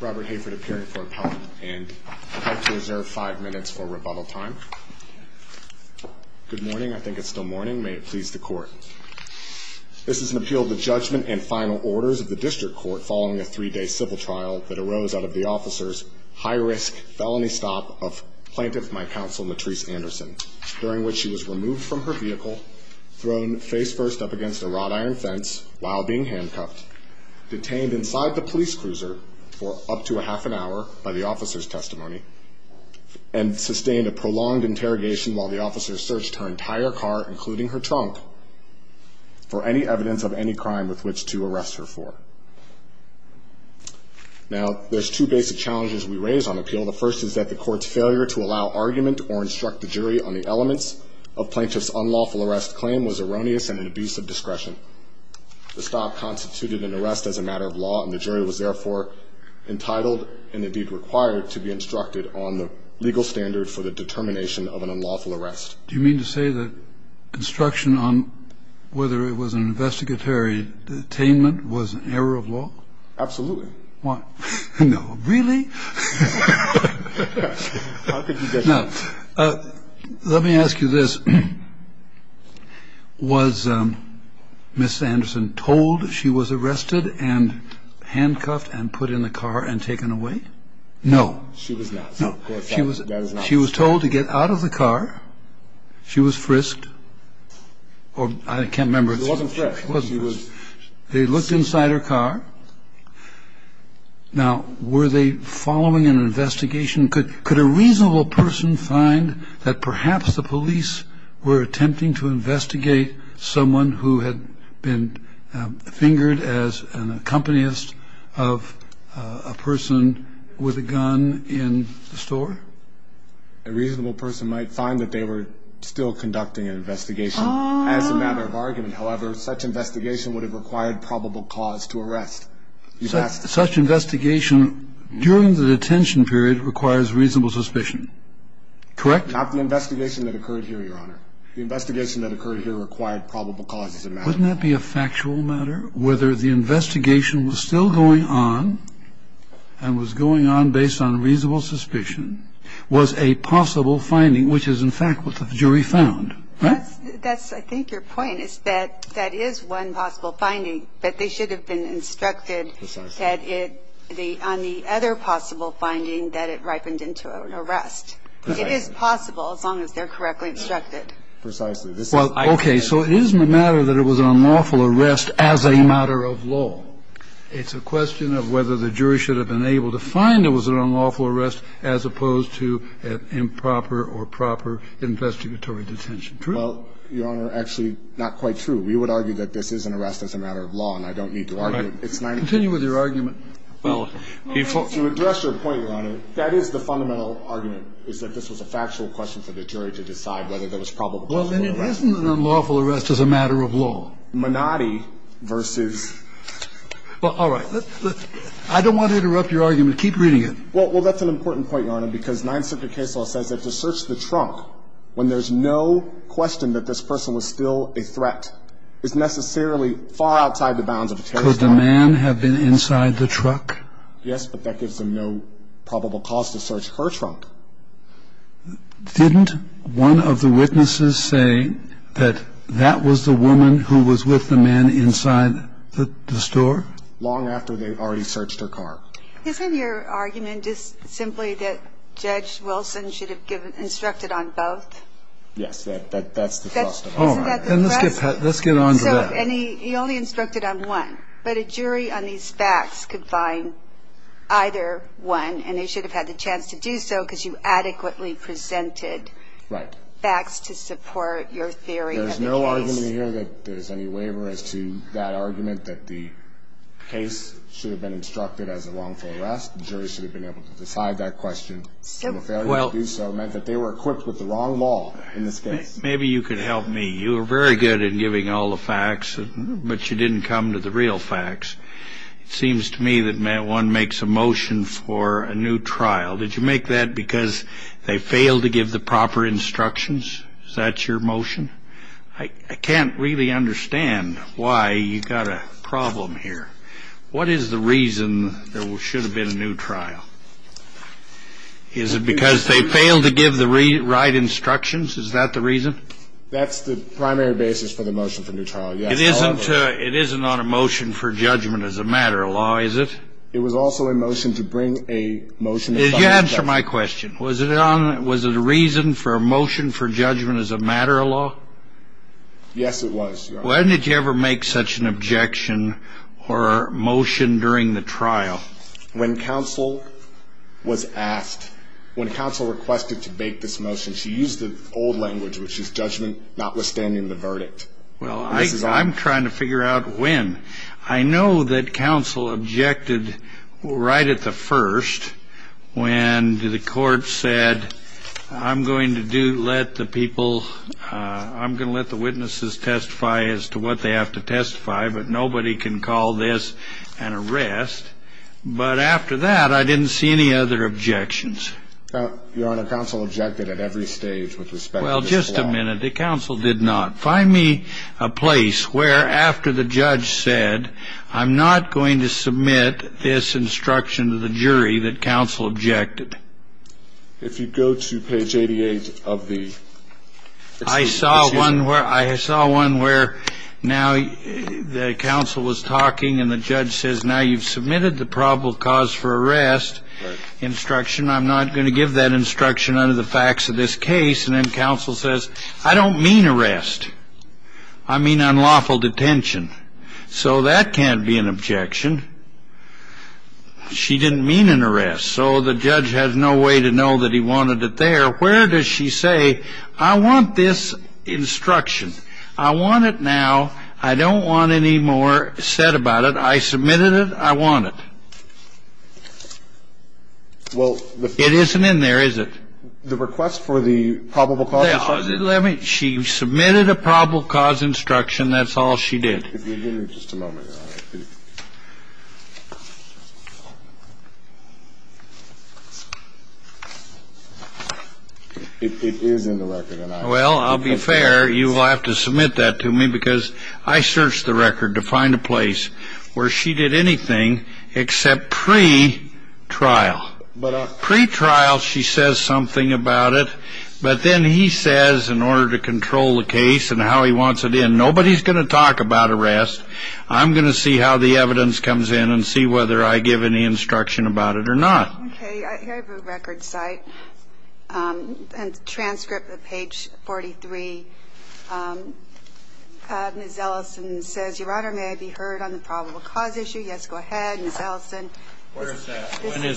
Robert Hayford appearing for appellant and I'd like to reserve five minutes for rebuttal time. Good morning. I think it's still morning. May it please the court. This is an appeal of the judgment and final orders of the district court following a three-day civil trial that arose out of the officer's high-risk felony stop of plaintiff, my counsel, Matrice Anderson, during which she was removed from her vehicle, thrown face first up against a wrought iron fence while being handcuffed, detained inside the police cruiser for up to a half an hour by the officer's testimony, and sustained a prolonged interrogation while the officer searched her entire car, including her trunk, for any evidence of any crime with which to arrest her for. Now there's two basic challenges we raise on appeal. The first is that the court's failure to allow argument or instruct the jury on the elements of plaintiff's unlawful arrest claim was erroneous and an abuse of discretion. The stop constituted an arrest as a matter of law and the jury was therefore entitled and indeed required to be instructed on the legal standard for the determination of an unlawful arrest. Do you mean to say that instruction on whether it was an investigatory detainment was an error of law? Absolutely. Why? No, really? Let me ask you this. Was Ms. Anderson told she was arrested and handcuffed and put in the car and taken away? No, she was not. She was told to get out of the car. She was frisked, or I can't remember. She wasn't frisked. She was. They looked inside her car. Now, were they forced to get out of the car? Following an investigation, could a reasonable person find that perhaps the police were attempting to investigate someone who had been fingered as an accompanist of a person with a gun in the store? A reasonable person might find that they were still conducting an investigation as a matter of argument. However, such investigation would have required probable cause to arrest. Such investigation during the detention period requires reasonable suspicion, correct? Not the investigation that occurred here, Your Honor. The investigation that occurred here required probable cause as a matter of argument. Wouldn't that be a factual matter? Whether the investigation was still going on and was going on based on reasonable suspicion was a possible finding, which is in fact what the jury found, right? That's I think your point is that that is one possible finding, but they should have been instructed that it, on the other possible finding, that it ripened into an arrest. It is possible as long as they're correctly instructed. Precisely. Well, okay. So it isn't a matter that it was an unlawful arrest as a matter of law. It's a question of whether the jury should have been able to find it was an unlawful arrest as opposed to improper or proper investigatory detention. True? Well, Your Honor, actually not quite true. We would argue that this is an arrest as a matter of law, and I don't need to argue it. Continue with your argument. Well, to address your point, Your Honor, that is the fundamental argument, is that this was a factual question for the jury to decide whether there was probable cause. Well, then it wasn't an unlawful arrest as a matter of law. Menotti versus Well, all right. I don't want to interrupt your argument. Keep reading it. Well, that's an important point, Your Honor, because Ninth Circuit case law says that to search the trunk when there's no question that this person was still a threat is necessarily far outside the bounds of a terrorist attack. Could the man have been inside the truck? Yes, but that gives them no probable cause to search her trunk. Didn't one of the witnesses say that that was the woman who was with the man inside the store? Long after they already searched her car. Isn't your argument just simply that Judge Wilson should have instructed on both? Yes, that's the thrust of it. Isn't that the thrust? Let's get on to that. So he only instructed on one, but a jury on these facts could find either one, and they should have had the chance to do so because you adequately presented facts to support your theory of the case. There's no argument here that there's any waiver as to that argument that the case should have been instructed as a wrongful arrest. The jury should have been able to decide that question. So a failure to do so meant that they were equipped with the wrong law in this case. Maybe you could help me. You were very good in giving all the facts, but you didn't come to the real facts. It seems to me that one makes a motion for a new trial. Did you make that because they failed to give the proper instructions? Is that your motion? I can't understand why you've got a problem here. What is the reason there should have been a new trial? Is it because they failed to give the right instructions? Is that the reason? That's the primary basis for the motion for a new trial. It isn't on a motion for judgment as a matter of law, is it? It was also a motion to bring a motion. Did you answer my question? Was it a reason for a motion for judgment as a matter of law? Yes, it was. When did you ever make such an objection or a motion during the trial? When counsel was asked, when counsel requested to make this motion, she used the old language, which is judgment notwithstanding the verdict. Well, I'm trying to figure out when. I know that counsel objected right at the first when the court said, I'm going to let the people, I'm going to let the witnesses testify as to what they have to testify, but nobody can call this an arrest. But after that, I didn't see any other objections. Your Honor, counsel objected at every stage with respect to this law. Well, just a minute. The counsel did not. Find me a place where after the judge said, I'm not going to submit this instruction to the jury that counsel objected. If you go to page 88 of the. I saw one where I saw one where now the counsel was talking and the judge says, now you've submitted the probable cause for arrest instruction. I'm not going to give that instruction under the facts of this case. And then counsel says, I don't mean arrest. I mean, unlawful detention. So that can't be an objection. She didn't mean an arrest. So the judge has no way to know that he wanted it there. Where does she say I want this instruction? I want it now. I don't want any more said about it. I submitted it. I want it. Well, it isn't in there, is it? The request for the probable cause. She submitted a probable cause instruction. That's all she did. It is in the record. Well, I'll be fair. You will have to submit that to me because I searched the record to find a place where she did anything except pre trial. But a pretrial, she says something about it. But then he says in order to control the case and how he wants it in, nobody's going to talk about arrest. I'm going to see how the evidence comes in and see whether I give any instruction about it or not. Okay. I have a record site and transcript of page 43. Ms. Ellison says, Your Honor, may I be heard on the probable cause issue? Yes, go ahead. When is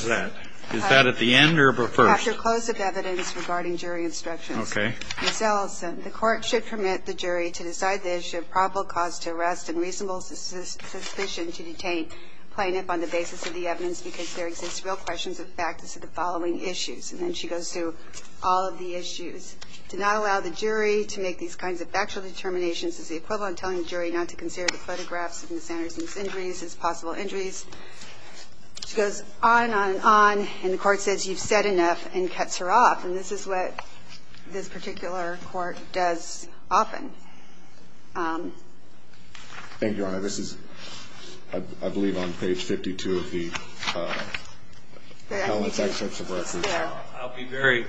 that? Is that at the end or first? After close of evidence regarding jury instructions. Okay. Ms. Ellison, the court should permit the jury to decide the issue of probable cause to arrest and reasonable suspicion to detain plaintiff on the basis of the evidence because there exists real questions of the practice of the following issues. And then she goes through all of the issues. To not allow the jury to make these kinds of factual determinations is the equivalent of telling the jury not to consider the She goes on and on and on. And the court says you've said enough and cuts her off. And this is what this particular court does often. Thank you, Your Honor. This is, I believe, on page 52 of the Helen's access of records. I'll be very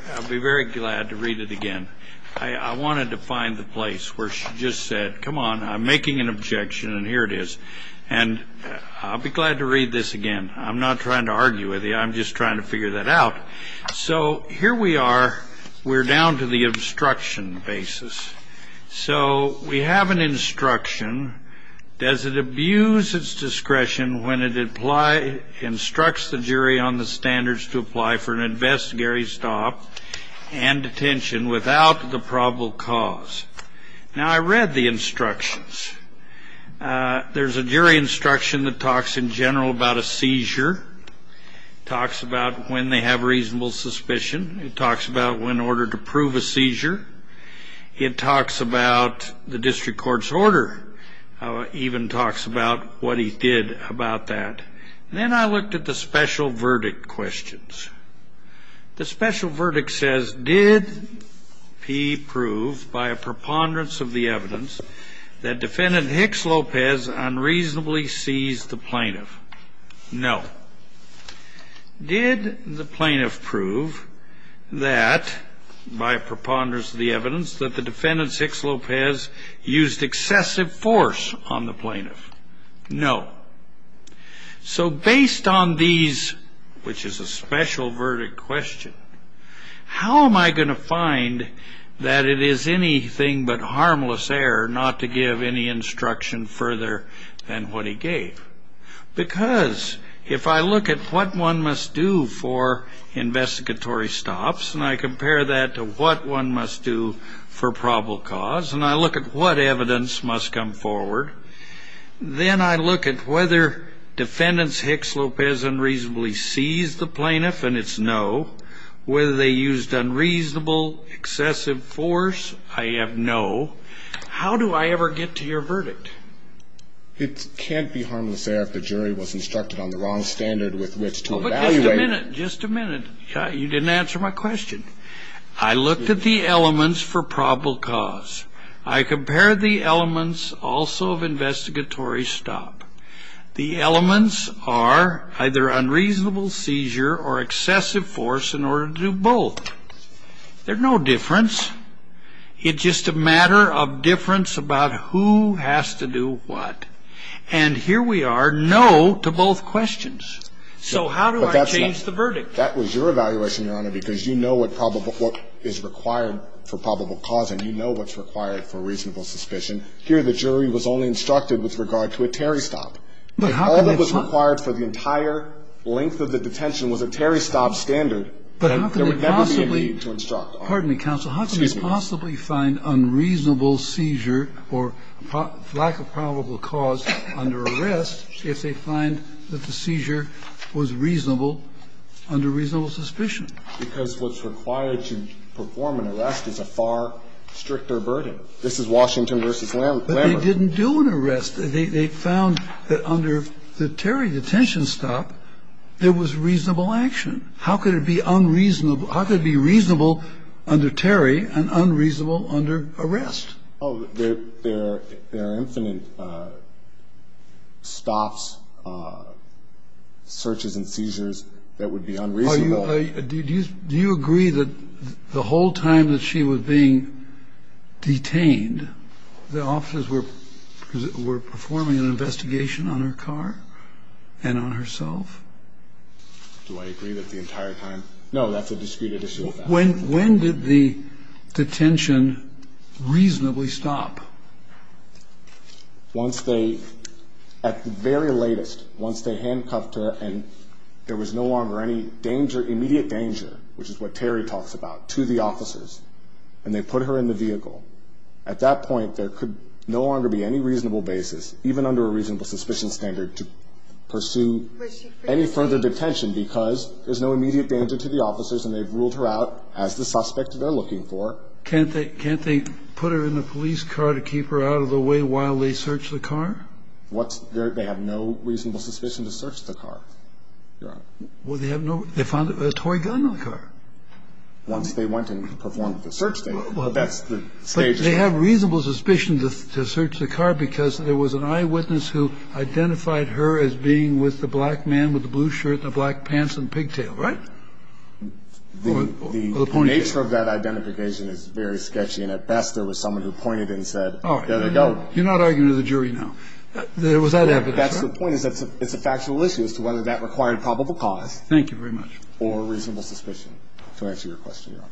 glad to read it again. I wanted to find the place where she just said, come on, I'm making an objection and here it is. And I'll be glad to read this again. I'm not trying to argue with you. I'm just trying to figure that out. So here we are. We're down to the instruction basis. So we have an instruction. Does it abuse its discretion when it instructs the jury on the standards to apply for an investigatory stop and detention without the probable cause? Now, I read the instructions. There's a jury instruction that talks in general about a seizure, talks about when they have reasonable suspicion. It talks about when in order to prove a seizure. It talks about the district court's order, even talks about what he did about that. Then I looked at the special verdict questions. The special verdict says, did he prove by a preponderance of the evidence that the defendant, Hicks Lopez, unreasonably seized the plaintiff? No. Did the plaintiff prove that by preponderance of the evidence that the defendant, Hicks Lopez, used excessive force on the plaintiff? No. So based on these, which is a special verdict question, how am I going to find that it is anything but harmless error not to give any instruction further than what he gave? Because if I look at what one must do for investigatory stops, and I compare that to what one must do for probable cause, and I look at what evidence must come forward, then I look at whether defendant's Hicks Lopez unreasonably seized the plaintiff, and it's no. Whether they used unreasonable excessive force, I have no. How do I ever get to your verdict? It can't be harmless error if the jury was instructed on the wrong standard with which to evaluate. Just a minute. You didn't answer my question. I looked at the elements for probable cause. I compared the elements also of investigatory stop. The elements are either unreasonable seizure or excessive force in order to do both. There's no difference. It's just a matter of difference about who has to do what. And here we are, no to both questions. So how do I change the verdict? That was your evaluation, Your Honor, because you know what is required for probable cause, and you know what's required for reasonable suspicion. Here the jury was only instructed with regard to a Terry stop. If all that was required for the entire length of the detention was a Terry stop standard, there would never be a need to instruct pardon me, counsel, how can they possibly find unreasonable seizure or lack of probable cause under arrest if they find that the seizure was reasonable under reasonable suspicion? Because what's required to perform an arrest is a far stricter burden. This is Washington v. Lambert. But they didn't do an arrest. They found that under the Terry detention stop, there was reasonable action. How could it be unreasonable under Terry and unreasonable under arrest? There are infinite stops, searches and seizures that would be unreasonable. Do you agree that the whole time that she was being detained, the officers were performing an investigation on her car and on herself? Do I agree that the entire time? No, that's a discreet additional fact. When did the detention reasonably stop? Once they, at the very latest, once they handcuffed her and there was no longer any danger, immediate danger, which is what Terry talks about, to the officers, and they put her in the vehicle, at that point, there could no longer be any reasonable basis, even under a reasonable suspicion standard, to pursue any further detention because there's no immediate danger to the officers and they've ruled her out as the suspect they're looking for. Can't they put her in the police car to keep her out of the way while they search the car? They have no reasonable suspicion to search the car, Your Honor. Well, they found a toy gun in the car. Once they went and performed the search, that's the stage. They have reasonable suspicion to search the car because there was an eyewitness who identified her as being with the black man with the blue shirt and the black pants and pigtail, right? The nature of that identification is very sketchy, and at best, there was someone who pointed and said, there you go. You're not arguing with the jury now. There was that evidence. That's the point. It's a factual issue as to whether that required probable cause. Thank you very much. Or reasonable suspicion, to answer your question, Your Honor.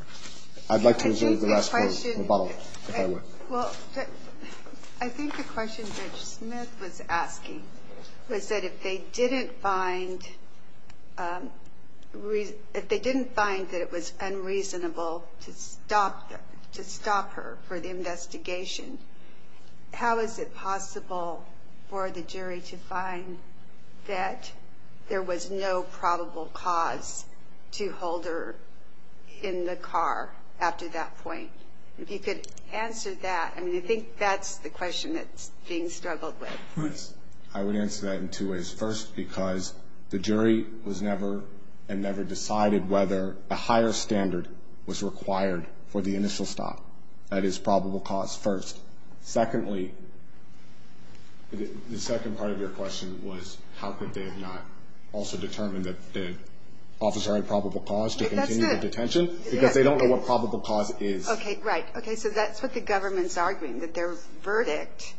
I'd like to reserve the last part of the bottle, if I were. Well, I think the question that Smith was asking was that if they didn't find that it was unreasonable to stop her for the investigation, how is it possible for the jury to find that there was no probable cause to hold her in the car after that point? If you could answer that. I mean, I think that's the question that's being struggled with. Yes. I would answer that in two ways. First, because the jury was never and never decided whether a higher standard was required for the initial stop. That is probable cause first. Secondly, the second part of your question was, how could they have not also determined that the officer had probable cause to continue the detention? Because they don't know what probable cause is. Okay. Right. Okay. So that's what the government's arguing, that their verdict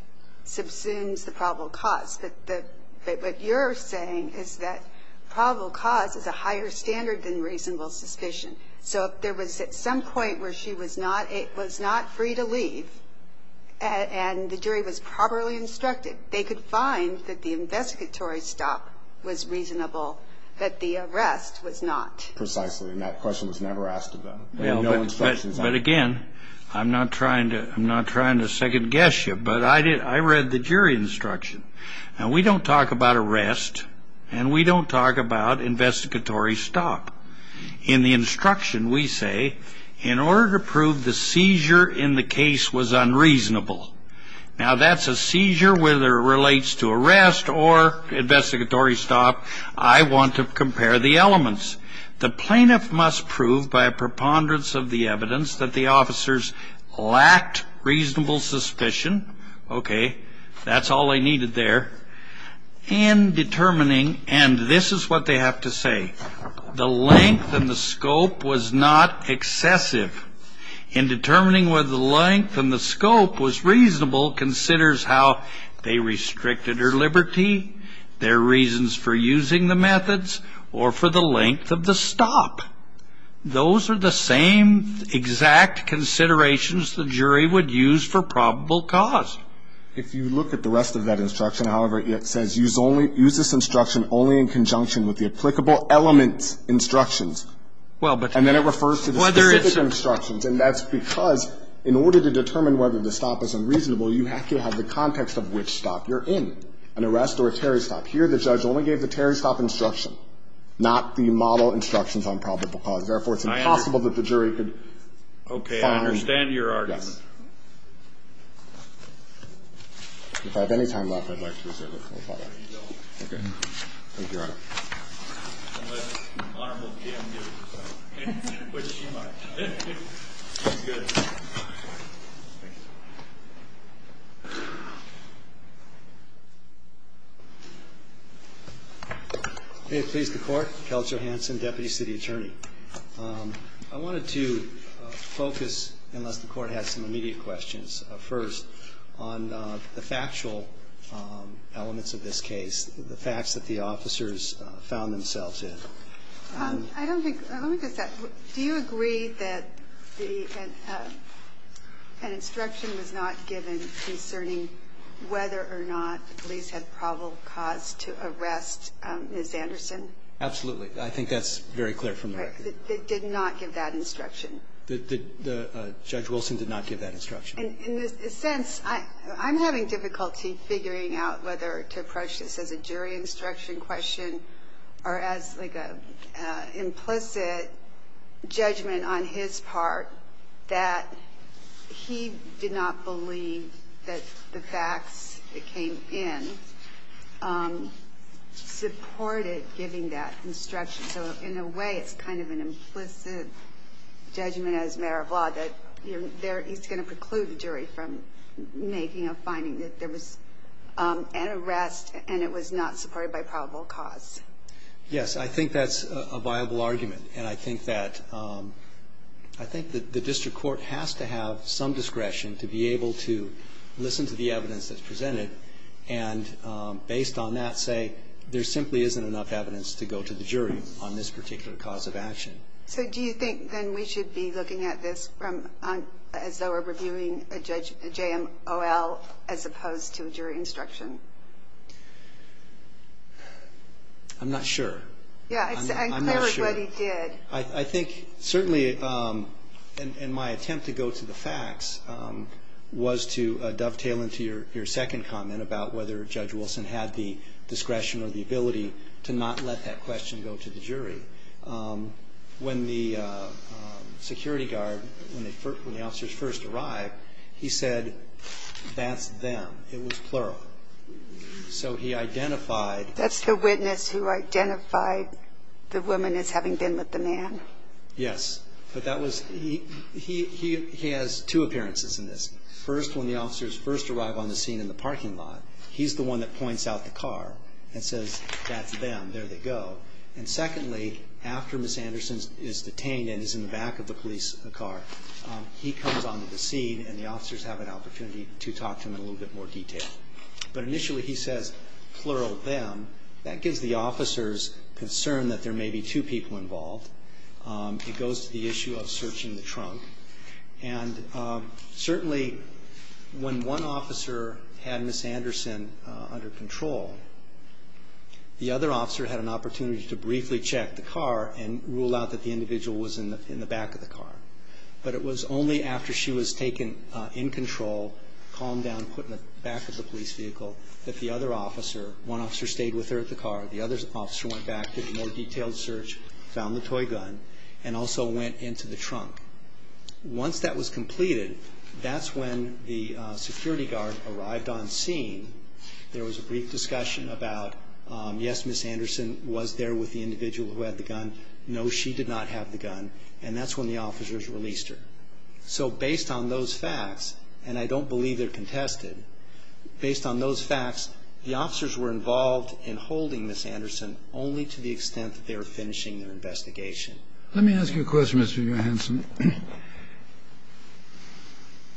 subsumes the probable cause. But what you're saying is that probable cause is a higher standard than reasonable suspicion. So if there was at some point where she was not free to leave and the jury was properly instructed, they could find that the investigatory stop was reasonable, that the arrest was not. Precisely. And that question was never asked of them. There were no instructions. But again, I'm not trying to second guess you, but I read the jury instruction. And we don't talk about arrest, and we don't talk about investigatory stop. In the instruction, we say, in order to prove the seizure in the case was unreasonable. Now, that's a seizure whether it relates to arrest or investigatory stop. I want to compare the elements. The plaintiff must prove by a preponderance of the evidence that the officers lacked reasonable suspicion. Okay. That's all they needed there. And determining, and this is what they have to say. The length and the scope was not excessive. In determining whether the length and the scope was reasonable considers how they restricted her liberty, their reasons for using the methods, or for the length of the stop. Those are the same exact considerations the jury would use for probable cause. If you look at the rest of that instruction, however, it says use this instruction only in conjunction with the applicable elements instructions. And then it refers to the specific instructions. And that's because in order to determine whether the stop is unreasonable, you have to have the context of which stop. You're in an arrest or a terrorist stop. Here, the judge only gave the terrorist stop instruction, not the model instructions on probable cause. Therefore, it's impossible that the jury could find. I understand your argument. If I have any time left, I'd like to reserve it for a follow-up. There you go. Thank you, Your Honor. Unless Honorable Kim gives us time, which she might. She's good. Thank you. May it please the Court. Kel Chohansen, Deputy City Attorney. I wanted to focus, unless the Court has some immediate questions. First, on the factual elements of this case. The facts that the officers found themselves in. I don't think, let me just ask, do you agree that the, an instruction was not given concerning whether or not the police had probable cause to arrest Ms. Anderson? Absolutely. I think that's very clear from the record. They did not give that instruction. The Judge Wilson did not give that instruction. In a sense, I'm having difficulty figuring out whether to approach this as a jury instruction question or as like an implicit judgment on his part that he did not believe that the facts that came in supported giving that instruction. So, in a way, it's kind of an implicit judgment as a matter of law that he's going to preclude the jury from making a finding that there was an arrest and it was not supported by probable cause. Yes, I think that's a viable argument. And I think that the district court has to have some discretion to be able to listen to the evidence that's presented and, based on that, say there simply isn't enough evidence to go to the jury on this particular cause of action. So do you think then we should be looking at this as though we're reviewing a JMOL as opposed to a jury instruction? I'm not sure. Yeah, I'm clear with what he did. I think, certainly, and my attempt to go to the facts was to dovetail into your second comment about whether Judge Wilson had the discretion or the ability to not let that question go to the jury. When the security guard, when the officers first arrived, he said, that's them. It was plural. So he identified... That's the witness who identified the woman as having been with the man? Yes. But he has two appearances in this. First, when the officers first arrive on the scene in the parking lot, he's the one that points out the car and says, that's them. There they go. And secondly, after Ms. Anderson is detained and is in the back of the police car, he comes onto the scene and the officers have an opportunity to talk to him in a little bit more detail. But initially, he says, plural, them. That gives the officers concern that there may be two people involved. It goes to the issue of searching the trunk. And certainly, when one officer had Ms. Anderson under control, the other officer had an opportunity to briefly check the car and rule out that the individual was in the back of the car. But it was only after she was taken in control, calmed down, put in the back of the police vehicle, that the other officer, one officer stayed with her at the car, the other officer went back, did a more detailed search, found the toy gun, and also went into the trunk. Once that was completed, that's when the security guard arrived on scene. There was a brief discussion about, yes, Ms. Anderson was there with the individual who had the gun. No, she did not have the gun. And that's when the officers released her. So based on those facts, and I don't believe they're contested, based on those facts, the officers were involved in holding Ms. Anderson only to the extent that they were finishing their investigation. Let me ask you a question, Mr. Johansen.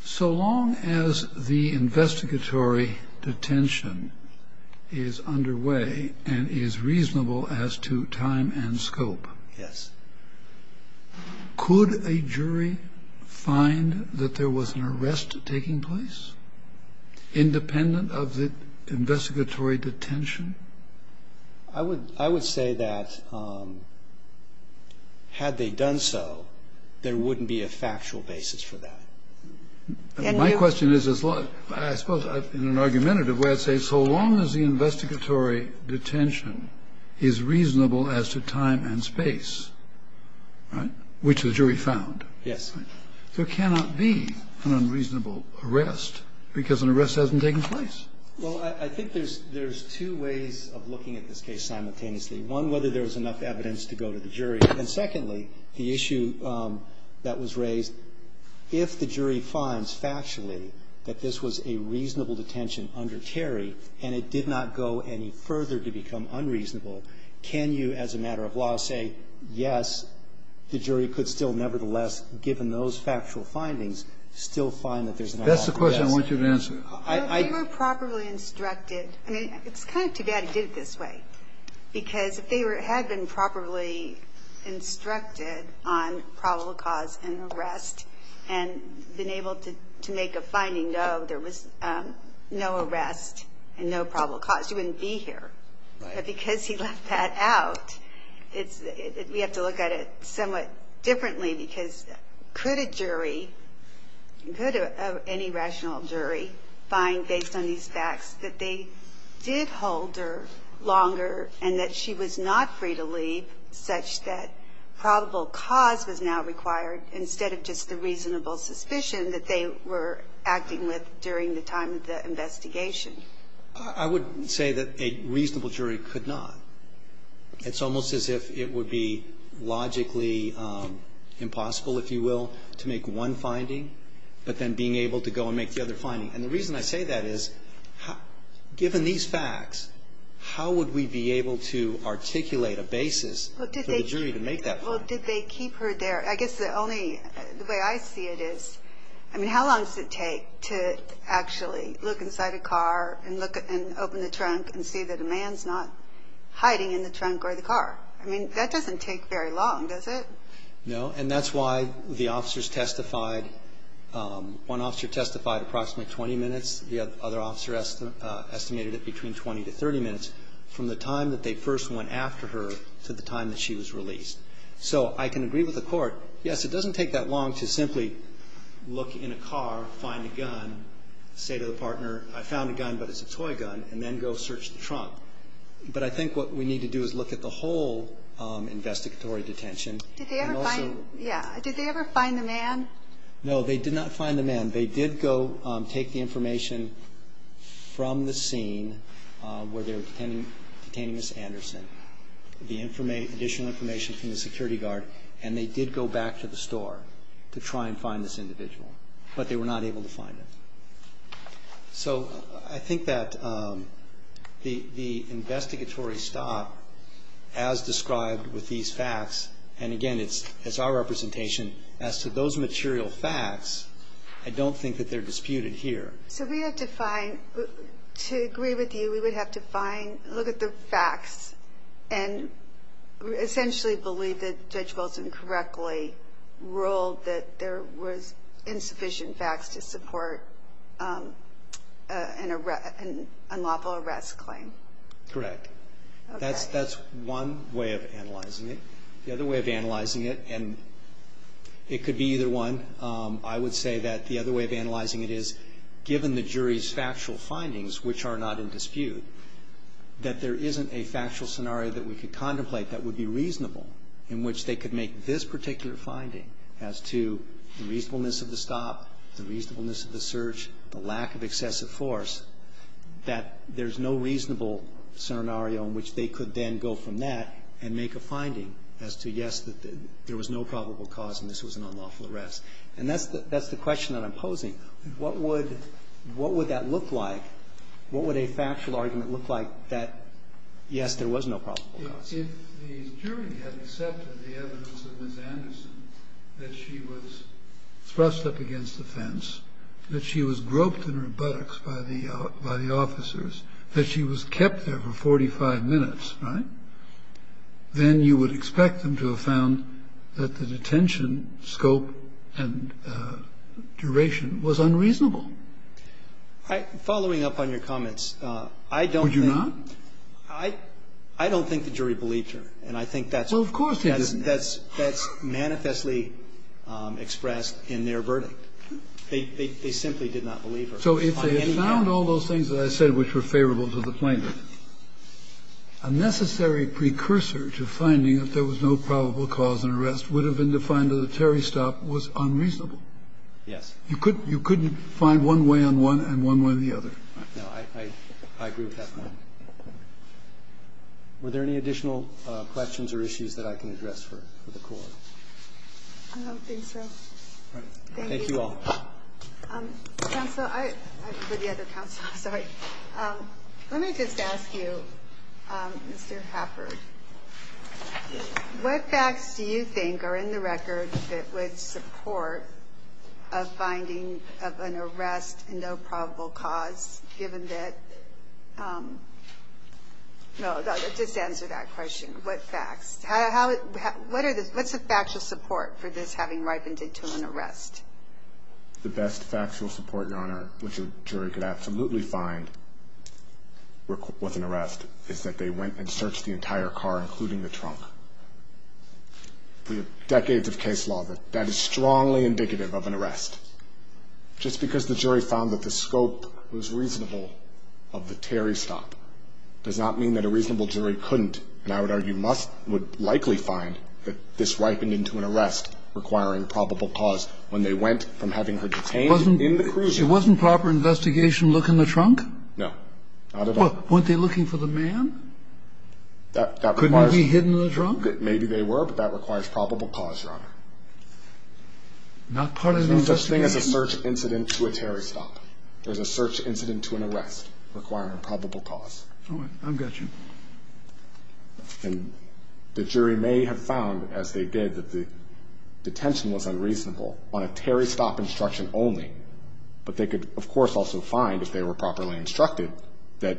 So long as the investigatory detention is underway and is reasonable as to time and scope, could a jury find that there was an arrest taking place, independent of the investigatory detention? I would say that had they done so, there wouldn't be a factual basis for that. My question is, I suppose in an argumentative way, I'd say so long as the investigatory detention is reasonable as to time and space, which the jury found, there cannot be an unreasonable arrest because an arrest hasn't taken place. Well, I think there's two ways of looking at this case simultaneously. One, whether there was enough evidence to go to the jury. And secondly, the issue that was raised, if the jury finds factually that this was a reasonable detention under Terry and it did not go any further to become unreasonable, can you, as a matter of law, say, yes, the jury could still nevertheless, given those factual findings, still find that there's an arrest? That's the question I want you to answer. If they were properly instructed, I mean, it's kind of too bad he did it this way. Because if they had been properly instructed on probable cause and arrest, and been able to make a finding, no, there was no arrest and no probable cause, you wouldn't be here. But because he left that out, we have to look at it somewhat differently. Because could a jury, could any rational jury find, based on these facts, that they did hold her longer and that she was not free to leave, such that probable cause was now required instead of just the reasonable suspicion that they were acting with during the time of the investigation? I would say that a reasonable jury could not. It's almost as if it would be logically impossible, if you will, to make one finding, but then being able to go and make the other finding. And the reason I say that is, given these facts, how would we be able to articulate a basis for the jury to make that finding? Well, did they keep her there? I guess the only, the way I see it is, I mean, how long does it take to actually look inside a car and look and open the trunk and see that a man's not hiding in the trunk or the car? I mean, that doesn't take very long, does it? No, and that's why the officers testified, one officer testified approximately 20 minutes, the other officer estimated it between 20 to 30 minutes, from the time that they first went after her to the time that she was released. So I can agree with the court, yes, it doesn't take that long to simply look in a car, find a gun, say to the partner, I found a gun, but it's a toy gun, and then go search the trunk. But I think what we need to do is look at the whole investigatory detention. And also... Did they ever find, yeah, did they ever find the man? No, they did not find the man. They did go take the information from the scene where they were detaining Ms. Anderson, the additional information from the security guard, and they did go back to the store to try and find this individual. But they were not able to find it. So I think that the investigatory stop, as described with these facts, and again, it's our representation, as to those material facts, I don't think that they're disputed here. So we have to find, to agree with you, we would have to find, look at the facts, and essentially believe that Judge Wilson correctly ruled that there was insufficient facts to support an unlawful arrest claim. Correct. That's one way of analyzing it. The other way of analyzing it, and it could be either one, I would say that the other way of analyzing it is, given the jury's factual findings, which are not in dispute, that there isn't a factual scenario that we could contemplate that would be reasonable, in which they could make this particular finding, as to the reasonableness of the stop, the reasonableness of the search, the lack of excessive force, that there's no reasonable scenario in which they could then go from that and make a finding as to, yes, there was no probable cause and this was an unlawful arrest. And that's the question that I'm posing. What would that look like? What would a factual argument look like that, yes, there was no probable cause? If the jury had accepted the evidence of Ms. Anderson, that she was thrust up against the fence, that she was groped in her buttocks by the officers, that she was kept there for 45 minutes, right, then you would expect them to have found that the detention scope and duration was unreasonable. Following up on your comments, I don't think the jury would have found that the jury believed her, and I think that's manifestly expressed in their verdict. They simply did not believe her. So if they had found all those things that I said which were favorable to the plaintiff, a necessary precursor to finding that there was no probable cause and arrest would have been to find that a Terry stop was unreasonable. Yes. You couldn't find one way on one and one way on the other. No, I agree with that point. Were there any additional questions or issues that I can address for the court? I don't think so. Thank you all. Counsel, I, for the other counsel, sorry, let me just ask you, Mr. Hafford, what facts do you think are in the record that would support a finding of an arrest and no probable cause, given that, no, just answer that question, what facts? How, what are the, what's the factual support for this having ripened into an arrest? The best factual support, Your Honor, which a jury could absolutely find with an arrest is that they went and searched the entire car, including the trunk. We have decades of case law that that is strongly indicative of an arrest. Just because the jury found that the scope was reasonable of the Terry stop does not mean that a reasonable jury couldn't, and I would argue must, would likely find that this ripened into an arrest requiring probable cause when they went from having her detained in the Cruiser. Wasn't proper investigation look in the trunk? No, not at all. Weren't they looking for the man? That requires. Couldn't he be hidden in the trunk? Maybe they were, but that requires probable cause, Your Honor. Not part of the investigation. There's no such thing as a search incident to a Terry stop. There's a search incident to an arrest requiring probable cause. All right. I've got you. And the jury may have found, as they did, that the detention was unreasonable on a Terry stop instruction only. But they could, of course, also find, if they were properly instructed, that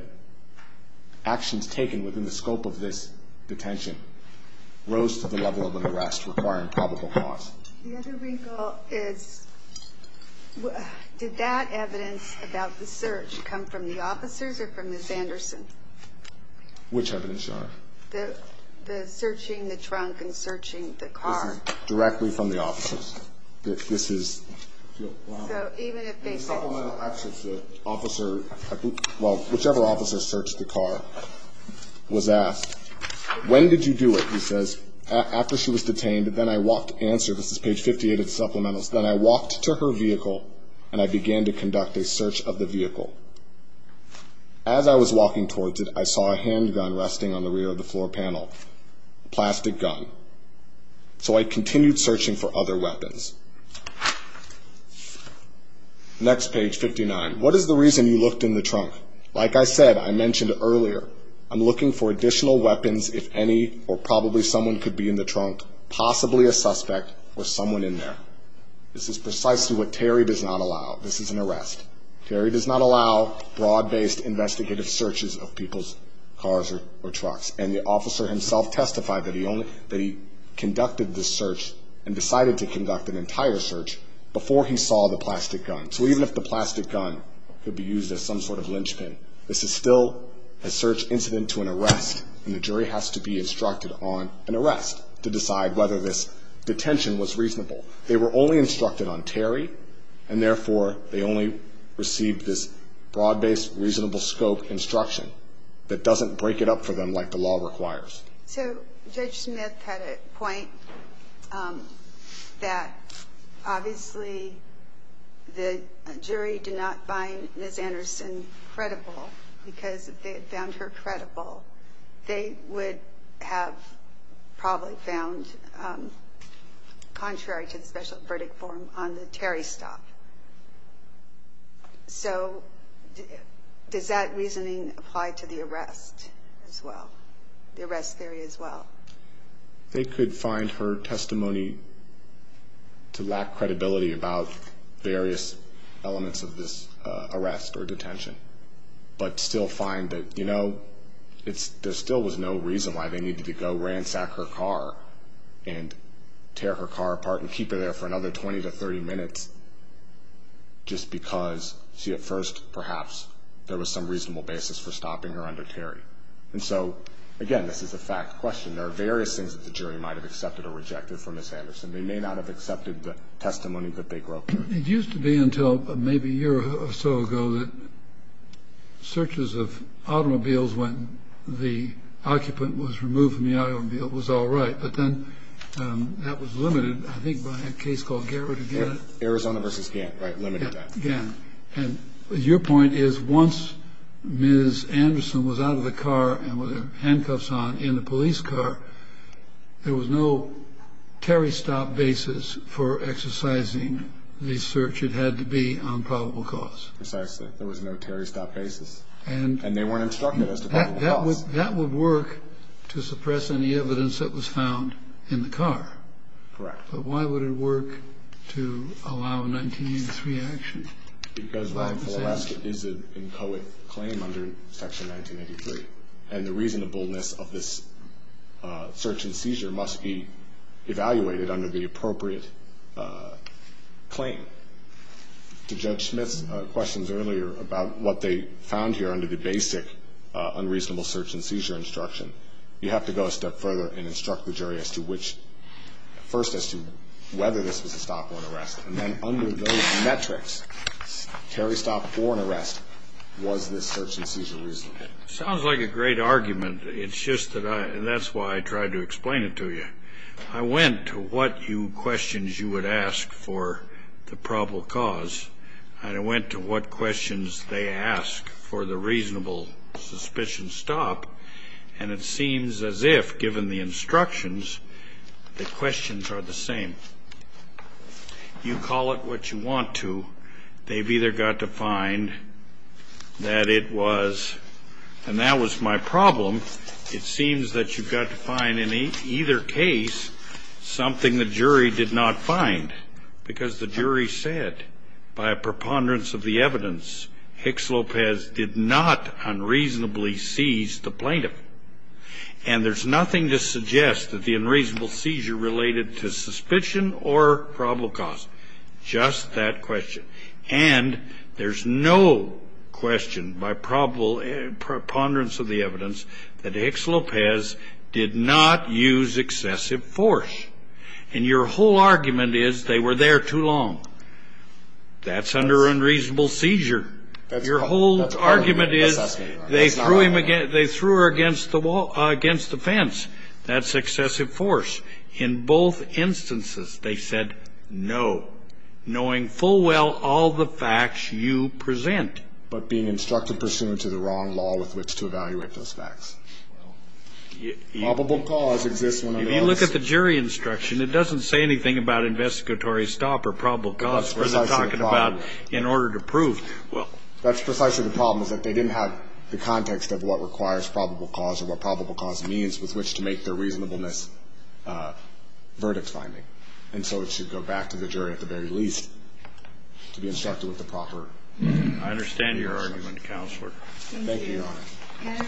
actions taken within the scope of this detention rose to the level of an arrest requiring probable cause. The other wrinkle is, did that evidence about the search come from the officers or from Ms. Anderson? Which evidence, Your Honor? The searching the trunk and searching the car. This is directly from the officers. This is. So even if they said. In the supplemental actions, the officer, well, whichever officer searched the car was asked, when did you do it? He says, after she was detained. Then I walked to answer. This is page 58 of the supplementals. Then I walked to her vehicle, and I began to conduct a search of the vehicle. As I was walking towards it, I saw a handgun resting on the rear of the floor panel. Plastic gun. So I continued searching for other weapons. Next page, 59. What is the reason you looked in the trunk? Like I said, I mentioned earlier, I'm looking for additional weapons, if any, or probably someone could be in the trunk, possibly a suspect or someone in there. This is precisely what Terry does not allow. This is an arrest. Terry does not allow broad-based investigative searches of people's cars or trucks. And the officer himself testified that he conducted this search and decided to conduct an entire search before he saw the plastic gun. So even if the plastic gun could be used as some sort of linchpin, this is still a search incident to an arrest, and the jury has to be instructed on an arrest to decide whether this detention was reasonable. They were only instructed on Terry, and therefore they only received this broad-based reasonable scope instruction that doesn't break it up for them like the law requires. So Judge Smith had a point that obviously the jury did not find Ms. Anderson credible because if they had found her credible, they would have probably found contrary to the special verdict form on the Terry stop. So does that reasoning apply to the arrest as well? They could find her testimony to lack credibility about various elements of this arrest or detention, but still find that, you know, there still was no reason why they needed to go ransack her car and tear her car apart and keep her there for another 20 to 30 minutes just because she at first perhaps there was some reasonable basis for stopping her under Terry. And so, again, this is a fact question. There are various things that the jury might have accepted or rejected from Ms. Anderson. They may not have accepted the testimony that they broke. It used to be until maybe a year or so ago that searches of automobiles when the occupant was removed from the automobile was all right, but then that was limited I think by a case called Garrett again. Arizona versus Gant, right, limited that. Gant. And your point is once Ms. Anderson was out of the car and with her handcuffs on in the police car, there was no Terry stop basis for exercising the search it had to be on probable cause. Precisely. There was no Terry stop basis. And they weren't instructed as to probable cause. That would work to suppress any evidence that was found in the car. Correct. But why would it work to allow 1983 action? Because 1-4-S is an inchoate claim under Section 1983. And the reasonableness of this search and seizure must be evaluated under the appropriate claim. To Judge Smith's questions earlier about what they found here under the basic unreasonable search and seizure instruction, you have to go a step further and instruct the jury as to which first as to whether this was a stop or an arrest. And then under those metrics, Terry stop or an arrest, was this search and seizure reasonable? Sounds like a great argument. It's just that that's why I tried to explain it to you. I went to what questions you would ask for the probable cause, and I went to what questions they ask for the reasonable suspicion stop, and it seems as if, given the instructions, the questions are the same. You call it what you want to. They've either got to find that it was, and that was my problem, it seems that you've got to find in either case something the jury did not find, because the jury said, by preponderance of the evidence, Hicks-Lopez did not unreasonably seize the plaintiff. And there's nothing to suggest that the unreasonable seizure related to suspicion or probable cause. Just that question. And there's no question, by preponderance of the evidence, that Hicks-Lopez did not use excessive force. And your whole argument is they were there too long. That's under unreasonable seizure. Your whole argument is they threw her against the wall, against the fence. That's excessive force. In both instances, they said no, knowing full well all the facts you present. But being instructed pursuant to the wrong law with which to evaluate those facts. Probable cause exists when it is. If you look at the jury instruction, it doesn't say anything about investigatory stop or probable cause. We're not talking about in order to prove. Well, that's precisely the problem, is that they didn't have the context of what requires probable cause or what probable cause means with which to make their reasonableness verdict finding. And so it should go back to the jury at the very least to be instructed with the proper. I understand your argument, Counselor. Thank you, Your Honor.